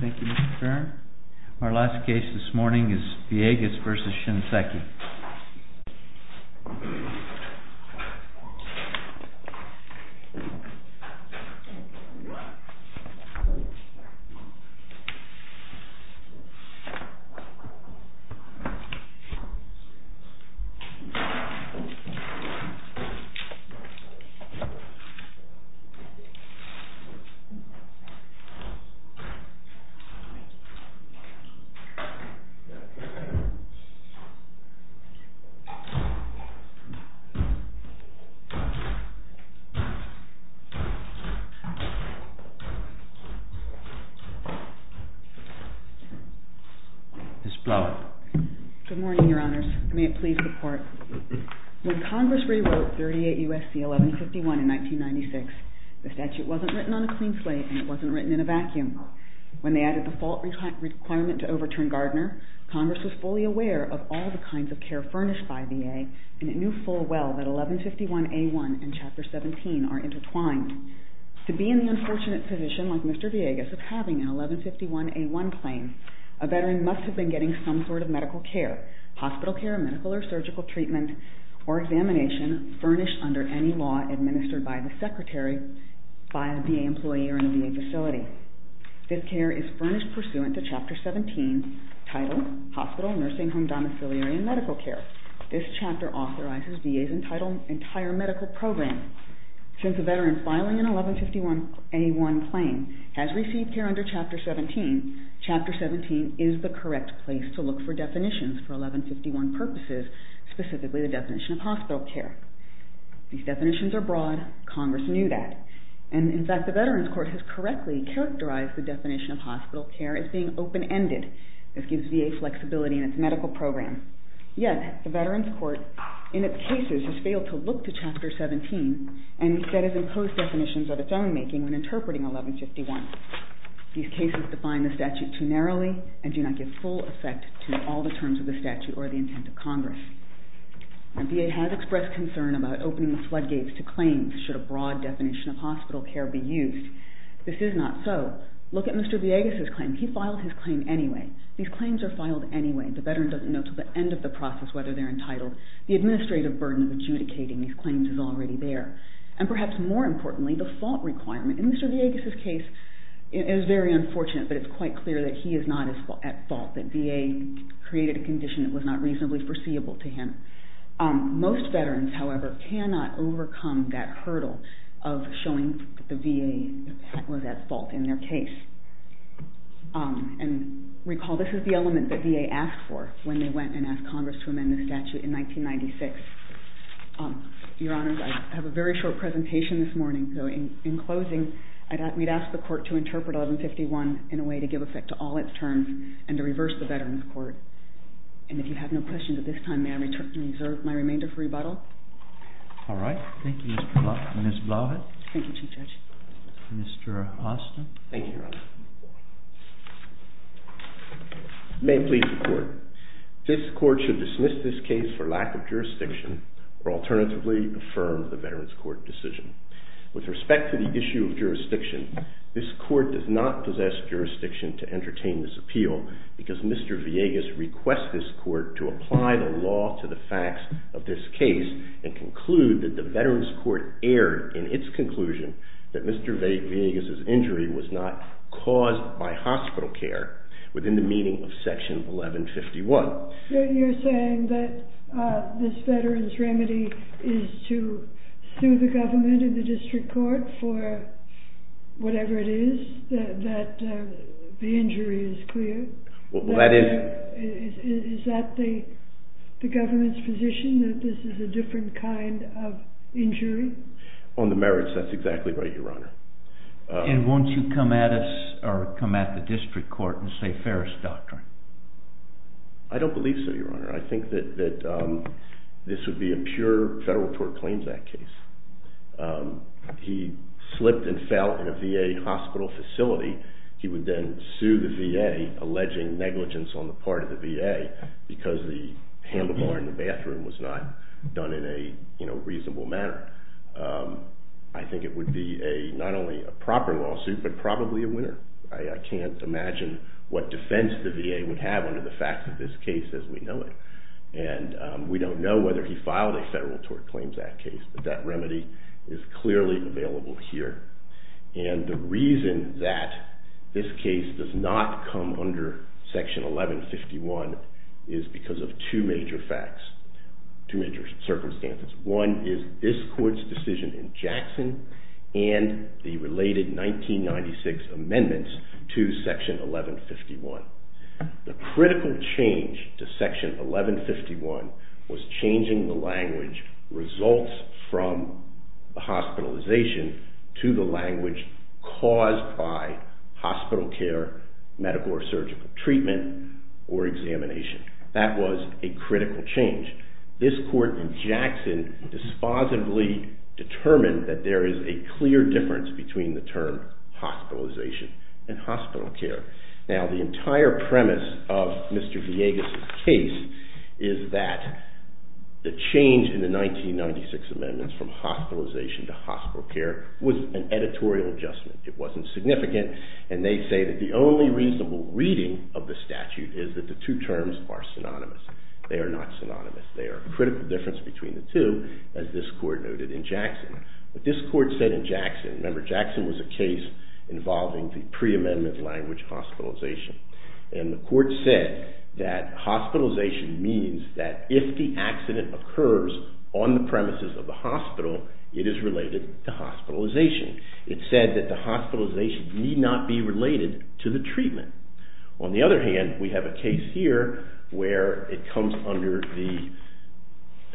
Thank you Mr. Farron. Our last case this morning is VIEGAS v. SHINSEKI. When Congress rewrote 38 U.S.C. 1151 in 1996, the statute wasn't written on a clean slate and it wasn't written in a vacuum. When they added the fault requirement to overturn Gardner, Congress was fully aware of all the kinds of care furnished by VA and it knew full well that 1151A1 and Chapter 17 are intertwined. To be in the unfortunate position like Mr. VIEGAS of having an 1151A1 claim, a veteran must have been getting some sort of medical care, hospital care, medical or surgical treatment, or examination furnished under any law administered by the secretary, by a VA employee, or in a VA facility. This care is furnished pursuant to Chapter 17 titled Hospital, Nursing Home, Domiciliary, and Medical Care. This chapter authorizes VA's entire medical program. Since a veteran filing an 1151A1 claim has received care under Chapter 17, Chapter 17 is the correct place to look for definitions for 1151 purposes, specifically the definition of hospital care. These definitions are broad, Congress knew that, and in fact the Veterans Court has correctly characterized the definition of hospital care as being open-ended. This gives VA flexibility in its medical program. Yet the Veterans Court in its cases has failed to look to Chapter 17 and instead has imposed definitions of its own making when interpreting 1151. These cases define the statute too narrowly and do not give full effect to all the terms of the statute or the intent of Congress. VA has expressed concern about opening the floodgates to claims should a broad definition of hospital care be used. This is not so. Look at Mr. Villegas' claim. He filed his claim anyway. These claims are filed anyway. The veteran doesn't know until the end of the process whether they're entitled. The administrative burden of adjudicating these claims is already there. And perhaps more importantly, the fault requirement. In Mr. Villegas' case, it's very unfortunate, but it's quite clear that he is not at fault, that VA created a condition that was not reasonably foreseeable to him. Most veterans, however, cannot overcome that hurdle of showing the VA was at fault in their case. And recall this is the element that VA asked for when they went and asked Congress to amend the statute in 1996. Your Honors, I have a very short presentation this morning, so in closing we'd ask the Court to interpret 1151 in a way to give effect to all its terms and to reverse the Veterans Court. And if you have no questions at this time, may I reserve my remainder for rebuttal? All right. Thank you, Ms. Blavat. Thank you, Chief Judge. Mr. Austin. Thank you, Your Honors. May it please the Court, this Court should dismiss this case for lack of jurisdiction or alternatively affirm the Veterans Court decision. With respect to the issue of jurisdiction, this Court does not possess jurisdiction to entertain this appeal because Mr. Villegas requests this Court to apply the law to the facts of this case and conclude that the Veterans Court erred in its conclusion that Mr. Villegas' injury was not caused by hospital care within the meaning of Section 1151. You're saying that this Veterans remedy is to sue the government and the District Court for whatever it is, that the injury is clear? Well, that is... Is that the government's position, that this is a different kind of injury? On the merits, that's exactly right, Your Honor. And won't you come at us or come at the District Court and say, I don't believe so, Your Honor. I think that this would be a pure Federal Tort Claims Act case. He slipped and fell in a VA hospital facility. He would then sue the VA, alleging negligence on the part of the VA because the handlebar in the bathroom was not done in a reasonable manner. I think it would be not only a proper lawsuit, but probably a winner. I can't imagine what defense the VA would have under the facts of this case as we know it. And we don't know whether he filed a Federal Tort Claims Act case, but that remedy is clearly available here. And the reason that this case does not come under Section 1151 is because of two major facts, two major circumstances. One is this Court's decision in Jackson and the related 1996 amendments to Section 1151. The critical change to Section 1151 was changing the language results from hospitalization to the language caused by hospital care, medical or surgical treatment, or examination. That was a critical change. This Court in Jackson dispositively determined that there is a clear difference between the term hospitalization and hospital care. Now, the entire premise of Mr. Villegas' case is that the change in the 1996 amendments from hospitalization to hospital care was an editorial adjustment. It wasn't significant. And they say that the only reasonable reading of the statute is that the two terms are synonymous. They are not synonymous. They are a critical difference between the two, as this Court noted in Jackson. What this Court said in Jackson, remember Jackson was a case involving the pre-amendment language hospitalization, and the Court said that hospitalization means that if the accident occurs on the premises of the hospital, it is related to hospitalization. It said that the hospitalization need not be related to the treatment. On the other hand, we have a case here where it comes under the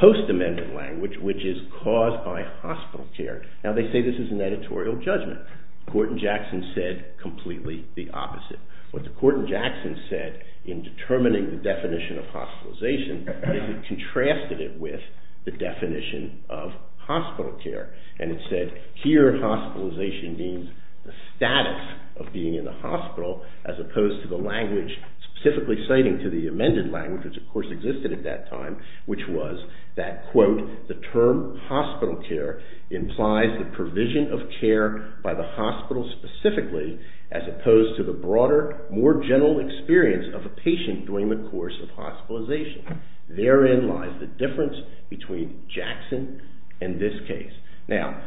post-amendment language, which is caused by hospital care. Now, they say this is an editorial judgment. The Court in Jackson said completely the opposite. What the Court in Jackson said in determining the definition of hospitalization is it contrasted it with the definition of hospital care. And it said here hospitalization means the status of being in the hospital as opposed to the language specifically citing to the amended language, which of course existed at that time, which was that, quote, the term hospital care implies the provision of care by the hospital specifically as opposed to the broader, more general experience of a patient during the course of hospitalization. Therein lies the difference between Jackson and this case. Now,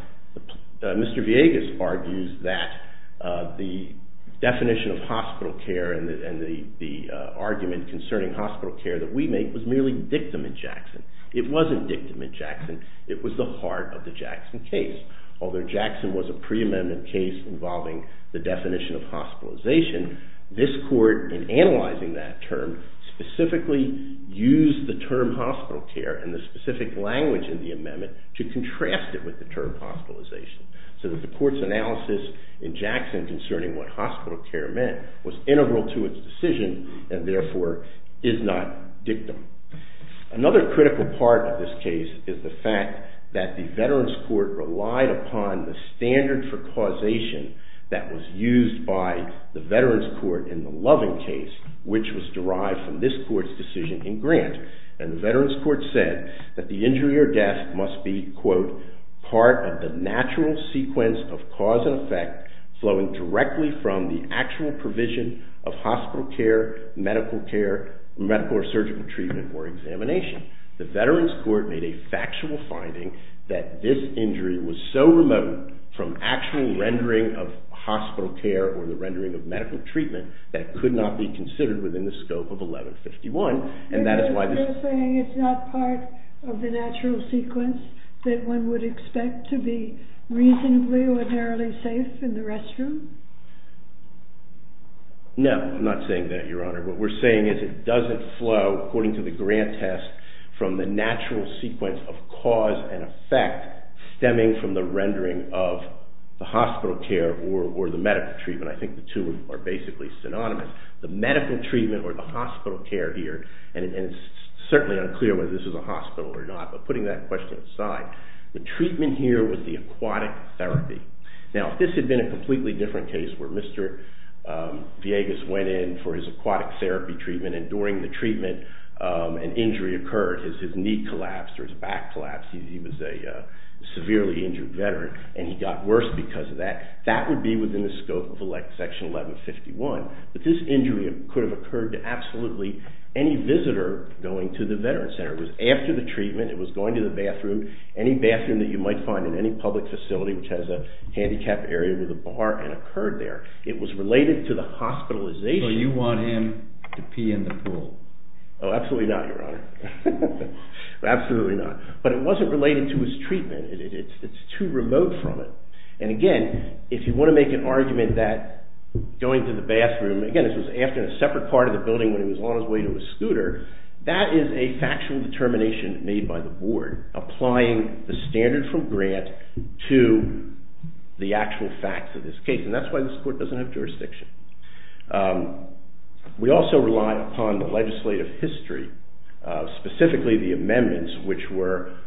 Mr. Villegas argues that the definition of hospital care and the argument concerning hospital care that we make was merely dictum in Jackson. It wasn't dictum in Jackson. It was the heart of the Jackson case. Although Jackson was a pre-amendment case involving the definition of hospitalization, this Court, in analyzing that term, specifically used the term hospital care and the specific language in the amendment to contrast it with the term hospitalization so that the Court's analysis in Jackson concerning what hospital care meant was integral to its decision and therefore is not dictum. Another critical part of this case is the fact that the Veterans Court relied upon the standard for causation that was used by the Veterans Court in the Loving case, which was derived from this Court's decision in Grant. And the Veterans Court said that the injury or death must be, quote, part of the natural sequence of cause and effect flowing directly from the actual provision of hospital care, medical care, medical or surgical treatment or examination. The Veterans Court made a factual finding that this injury was so remote from actual rendering of hospital care or the rendering of medical treatment that it could not be considered within the scope of 1151. And that is why this... You're saying it's not part of the natural sequence that one would expect to be reasonably or narrowly safe in the restroom? No, I'm not saying that, Your Honor. What we're saying is it doesn't flow, according to the Grant test, from the natural sequence of cause and effect stemming from the rendering of the hospital care or the medical treatment. I think the two are basically synonymous. The medical treatment or the hospital care here, and it's certainly unclear whether this is a hospital or not, but putting that question aside, the treatment here was the aquatic therapy. Now, if this had been a completely different case where Mr. Villegas went in for his aquatic therapy treatment and during the treatment an injury occurred, his knee collapsed or his back collapsed, he was a severely injured veteran and he got worse because of that, that would be within the scope of Section 1151. But this injury could have occurred to absolutely any visitor going to the Veterans Center. It was after the treatment, it was going to the bathroom, any bathroom that you might find in any public facility which has a handicapped area with a bar and occurred there. It was related to the hospitalization. So you want him to pee in the pool? Oh, absolutely not, Your Honor. Absolutely not. But it wasn't related to his treatment. It's too remote from it. And again, if you want to make an argument that going to the bathroom, again this was after a separate part of the building when he was on his way to his scooter, that is a factual determination made by the board applying the standard from Grant to the actual facts of this case. And that's why this court doesn't have jurisdiction. We also rely upon the legislative history, specifically the amendments which were,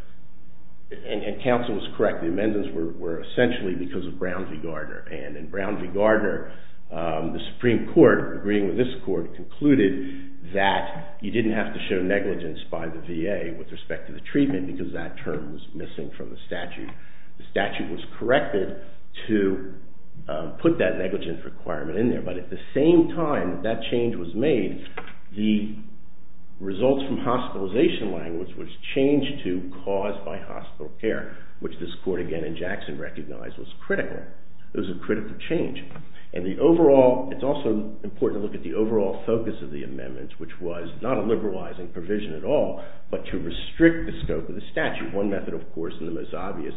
and counsel was correct, the amendments were essentially because of Brown v. Gardner. And in Brown v. Gardner, the Supreme Court, agreeing with this court, concluded that you didn't have to show negligence by the VA with respect to the treatment and because that term was missing from the statute. The statute was corrected to put that negligence requirement in there. But at the same time that change was made, the results from hospitalization language was changed to caused by hospital care, which this court again in Jackson recognized was critical. It was a critical change. And the overall, it's also important to look at the overall focus of the amendments, which was not a liberalizing provision at all, but to restrict the scope of the statute. One method, of course, and the most obvious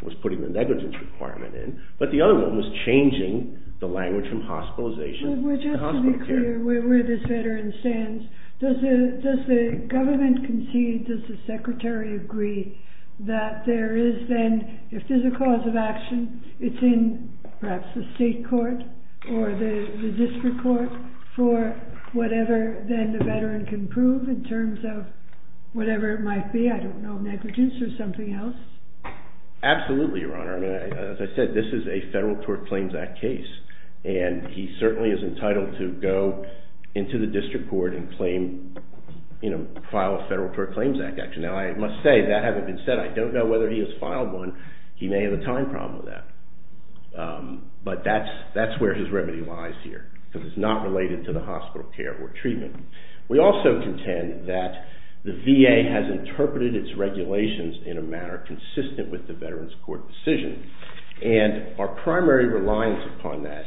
was putting the negligence requirement in, but the other one was changing the language from hospitalization to hospital care. Just to be clear where this veteran stands, does the government concede, does the secretary agree that there is then, if there's a cause of action, it's in perhaps the state court or the district court for whatever then the veteran can prove in terms of whatever it might be, I don't know, negligence or something else? Absolutely, Your Honor. As I said, this is a Federal Tort Claims Act case, and he certainly is entitled to go into the district court and file a Federal Tort Claims Act action. Now, I must say, that hasn't been said. I don't know whether he has filed one. He may have a time problem with that. But that's where his remedy lies here, because it's not related to the hospital care or treatment. We also contend that the VA has interpreted its regulations in a manner consistent with the Veterans Court decision. And our primary reliance upon that,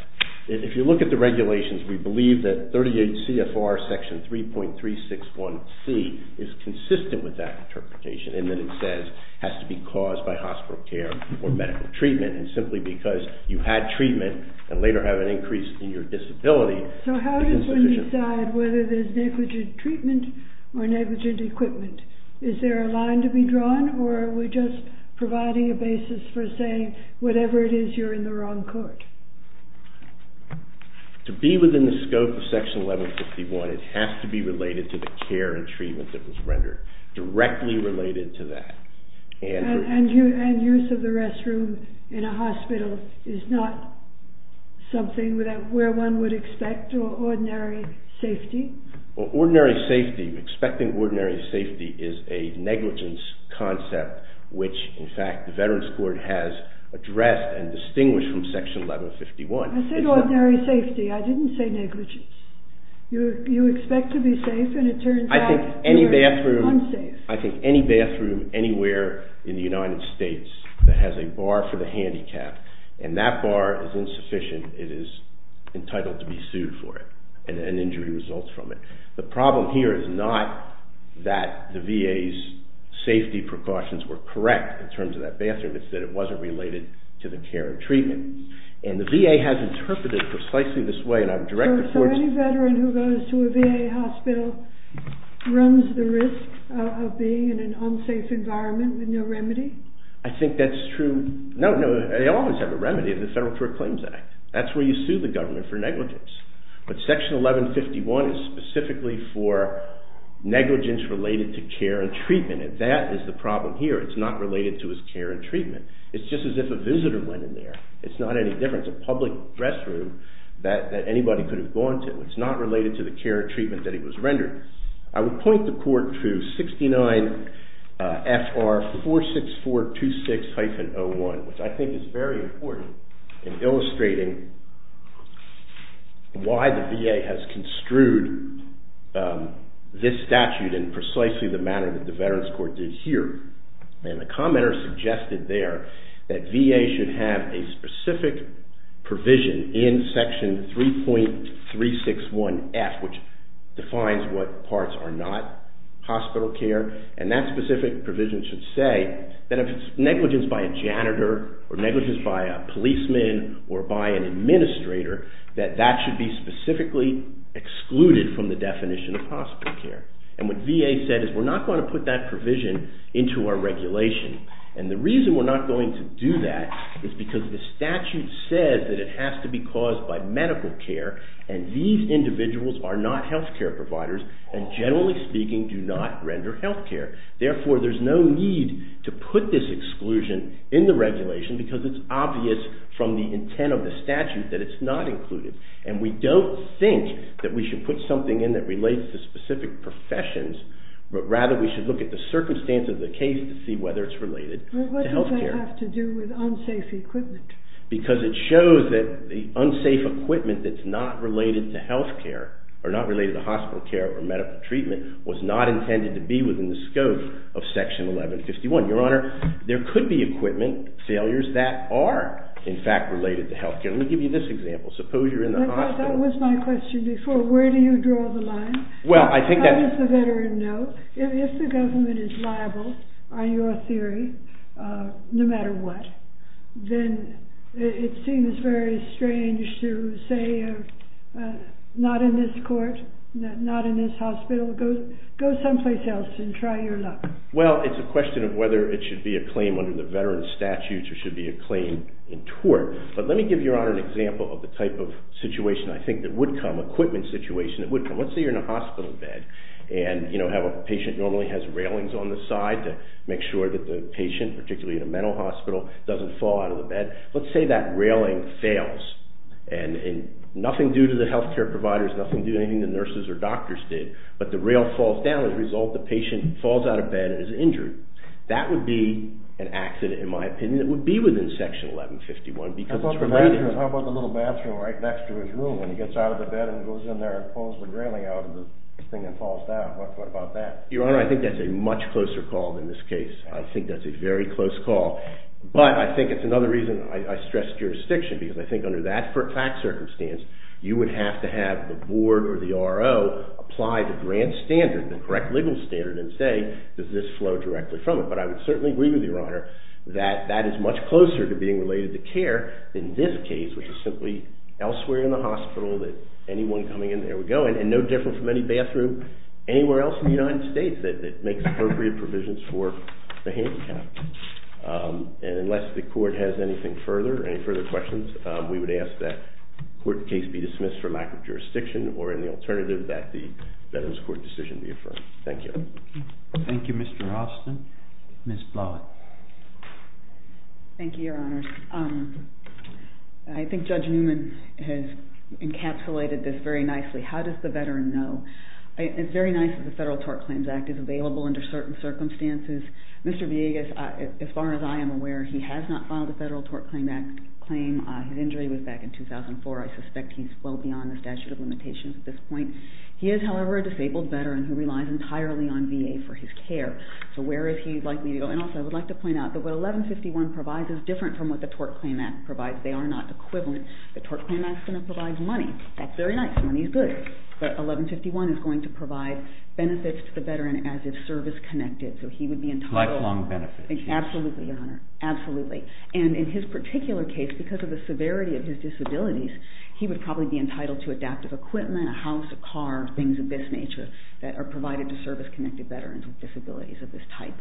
if you look at the regulations, we believe that 38 CFR Section 3.361C is consistent with that interpretation. And then it says, has to be caused by hospital care or medical treatment. And simply because you had treatment and later have an increase in your disability, So how does one decide whether there's negligent treatment or negligent equipment? Is there a line to be drawn, or are we just providing a basis for saying, whatever it is, you're in the wrong court? To be within the scope of Section 1151, it has to be related to the care and treatment that was rendered. Directly related to that. And use of the restroom in a hospital is not something where one would expect or ordinary safety? Well, ordinary safety, expecting ordinary safety is a negligence concept, which, in fact, the Veterans Court has addressed and distinguished from Section 1151. I said ordinary safety. I didn't say negligence. You expect to be safe, and it turns out you're unsafe. I think any bathroom anywhere in the United States that has a bar for the handicapped, and that bar is insufficient, it is entitled to be sued for it, and an injury results from it. The problem here is not that the VA's safety precautions were correct in terms of that bathroom, it's that it wasn't related to the care and treatment. And the VA has interpreted it precisely this way. So any Veteran who goes to a VA hospital runs the risk of being in an unsafe environment with no remedy? I think that's true. No, they always have a remedy in the Federal Court Claims Act. That's where you sue the government for negligence. But Section 1151 is specifically for negligence related to care and treatment, and that is the problem here. It's not related to his care and treatment. It's just as if a visitor went in there. It's not any different. It's a public restroom that anybody could have gone to. It's not related to the care and treatment that he was rendered. I would point the Court to 69 FR 46426-01, which I think is very important in illustrating why the VA has construed this statute in precisely the manner that the Veterans Court did here. And the commenter suggested there that VA should have a specific provision in Section 3.361F, which defines what parts are not hospital care, and that specific provision should say that if it's negligence by a janitor, or negligence by a policeman, or by an administrator, that that should be specifically excluded from the definition of hospital care. And what VA said is, we're not going to put that provision into our regulation. And the reason we're not going to do that is because the statute says that it has to be caused by medical care, and these individuals are not health care providers, and generally speaking, do not render health care. Therefore, there's no need to put this exclusion in the regulation, because it's obvious from the intent of the statute that it's not included. And we don't think that we should put something in that relates to specific professions, but rather we should look at the circumstance of the case to see whether it's related to health care. What does that have to do with unsafe equipment? Because it shows that the unsafe equipment that's not related to health care, or not related to hospital care or medical treatment, was not intended to be within the scope of Section 1151. Your Honor, there could be equipment failures that are, in fact, related to health care. Let me give you this example. Suppose you're in the hospital. That was my question before. Where do you draw the line? How does the veteran know? If the government is liable, on your theory, no matter what, then it seems very strange to say, not in this court, not in this hospital. Go someplace else and try your luck. Well, it's a question of whether it should be a claim under the veteran's statutes or should be a claim in tort. But let me give your Honor an example of the type of situation I think that would come, equipment situation that would come. Let's say you're in a hospital bed, and a patient normally has railings on the side to make sure that the patient, particularly in a mental hospital, doesn't fall out of the bed. Let's say that railing fails, and nothing due to the health care providers, nothing due to anything the nurses or doctors did, but the rail falls down. As a result, the patient falls out of bed and is injured. That would be an accident, in my opinion. And it would be within Section 1151 because it's provided. How about the little bathroom right next to his room? When he gets out of the bed and goes in there and pulls the railing out of the thing and falls down? What about that? Your Honor, I think that's a much closer call than this case. I think that's a very close call. But I think it's another reason I stress jurisdiction, because I think under that fact circumstance, you would have to have the board or the R.O. apply the grand standard, the correct legal standard, and say, does this flow directly from it? But I would certainly agree with you, Your Honor, that that is much closer to being related to care than this case, which is simply elsewhere in the hospital that anyone coming in there would go in, and no different from any bathroom anywhere else in the United States that makes appropriate provisions for the handicapped. And unless the court has anything further, any further questions, we would ask that the court case be dismissed from active jurisdiction or, in the alternative, that the Veterans Court decision be affirmed. Thank you. Thank you, Mr. Austin. Ms. Blawett. Thank you, Your Honors. I think Judge Newman has encapsulated this very nicely. How does the Veteran know? It's very nice that the Federal Tort Claims Act is available under certain circumstances. Mr. Villegas, as far as I am aware, he has not filed a Federal Tort Claims Act claim. His injury was back in 2004. I suspect he's well beyond the statute of limitations at this point. He is, however, a disabled Veteran who relies entirely on VA for his care. So where is he likely to go? And also I would like to point out that what 1151 provides is different from what the Tort Claims Act provides. They are not equivalent. The Tort Claims Act is going to provide money. That's very nice. Money is good. But 1151 is going to provide benefits to the Veteran as if service-connected. So he would be entitled to lifelong benefits. Absolutely, Your Honor, absolutely. And in his particular case, because of the severity of his disabilities, he would probably be entitled to adaptive equipment, a house, a car, things of this nature that are provided to service-connected Veterans with disabilities of this type.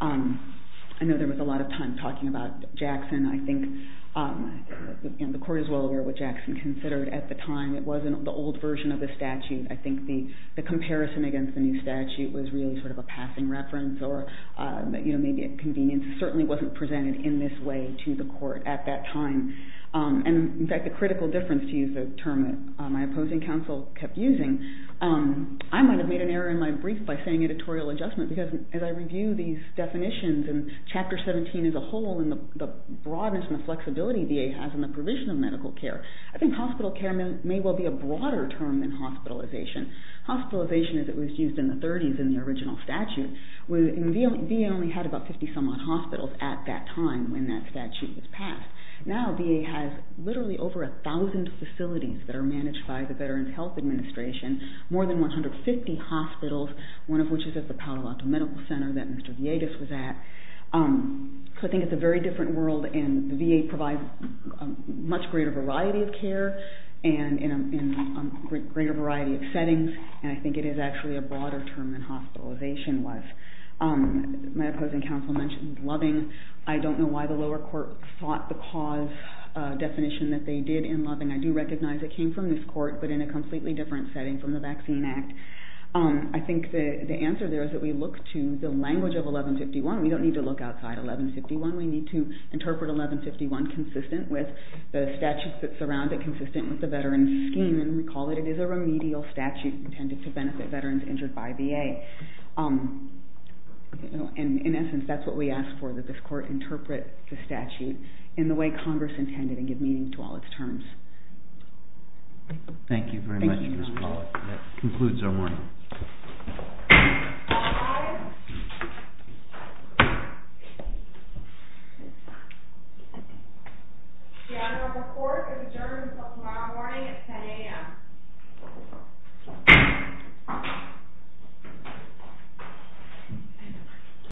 I know there was a lot of time talking about Jackson. I think the Court is well aware what Jackson considered at the time. It wasn't the old version of the statute. I think the comparison against the new statute was really sort of a passing reference or maybe a convenience. It certainly wasn't presented in this way to the Court at that time. In fact, the critical difference, to use the term that my opposing counsel kept using, I might have made an error in my brief by saying editorial adjustment because as I review these definitions and Chapter 17 as a whole and the broadness and the flexibility VA has in the provision of medical care, I think hospital care may well be a broader term than hospitalization. Hospitalization, as it was used in the 30s in the original statute, VA only had about 50 some odd hospitals at that time when that statute was passed. Now VA has literally over 1,000 facilities that are managed by the Veterans Health Administration, more than 150 hospitals, one of which is at the Palo Alto Medical Center that Mr. Villegas was at. So I think it's a very different world, and the VA provides a much greater variety of care in a greater variety of settings, and I think it is actually a broader term than hospitalization was. My opposing counsel mentioned loving. I don't know why the lower court sought the cause definition that they did in loving. I do recognize it came from this court, but in a completely different setting from the Vaccine Act. I think the answer there is that we look to the language of 1151. We don't need to look outside 1151. We need to interpret 1151 consistent with the statutes that surround it, intended to benefit veterans injured by VA. In essence, that's what we ask for, that this court interpret the statute in the way Congress intended and give meaning to all its terms. Thank you very much, Ms. Pollack. That concludes our morning. All rise. We are adjourned until tomorrow morning at 10 a.m.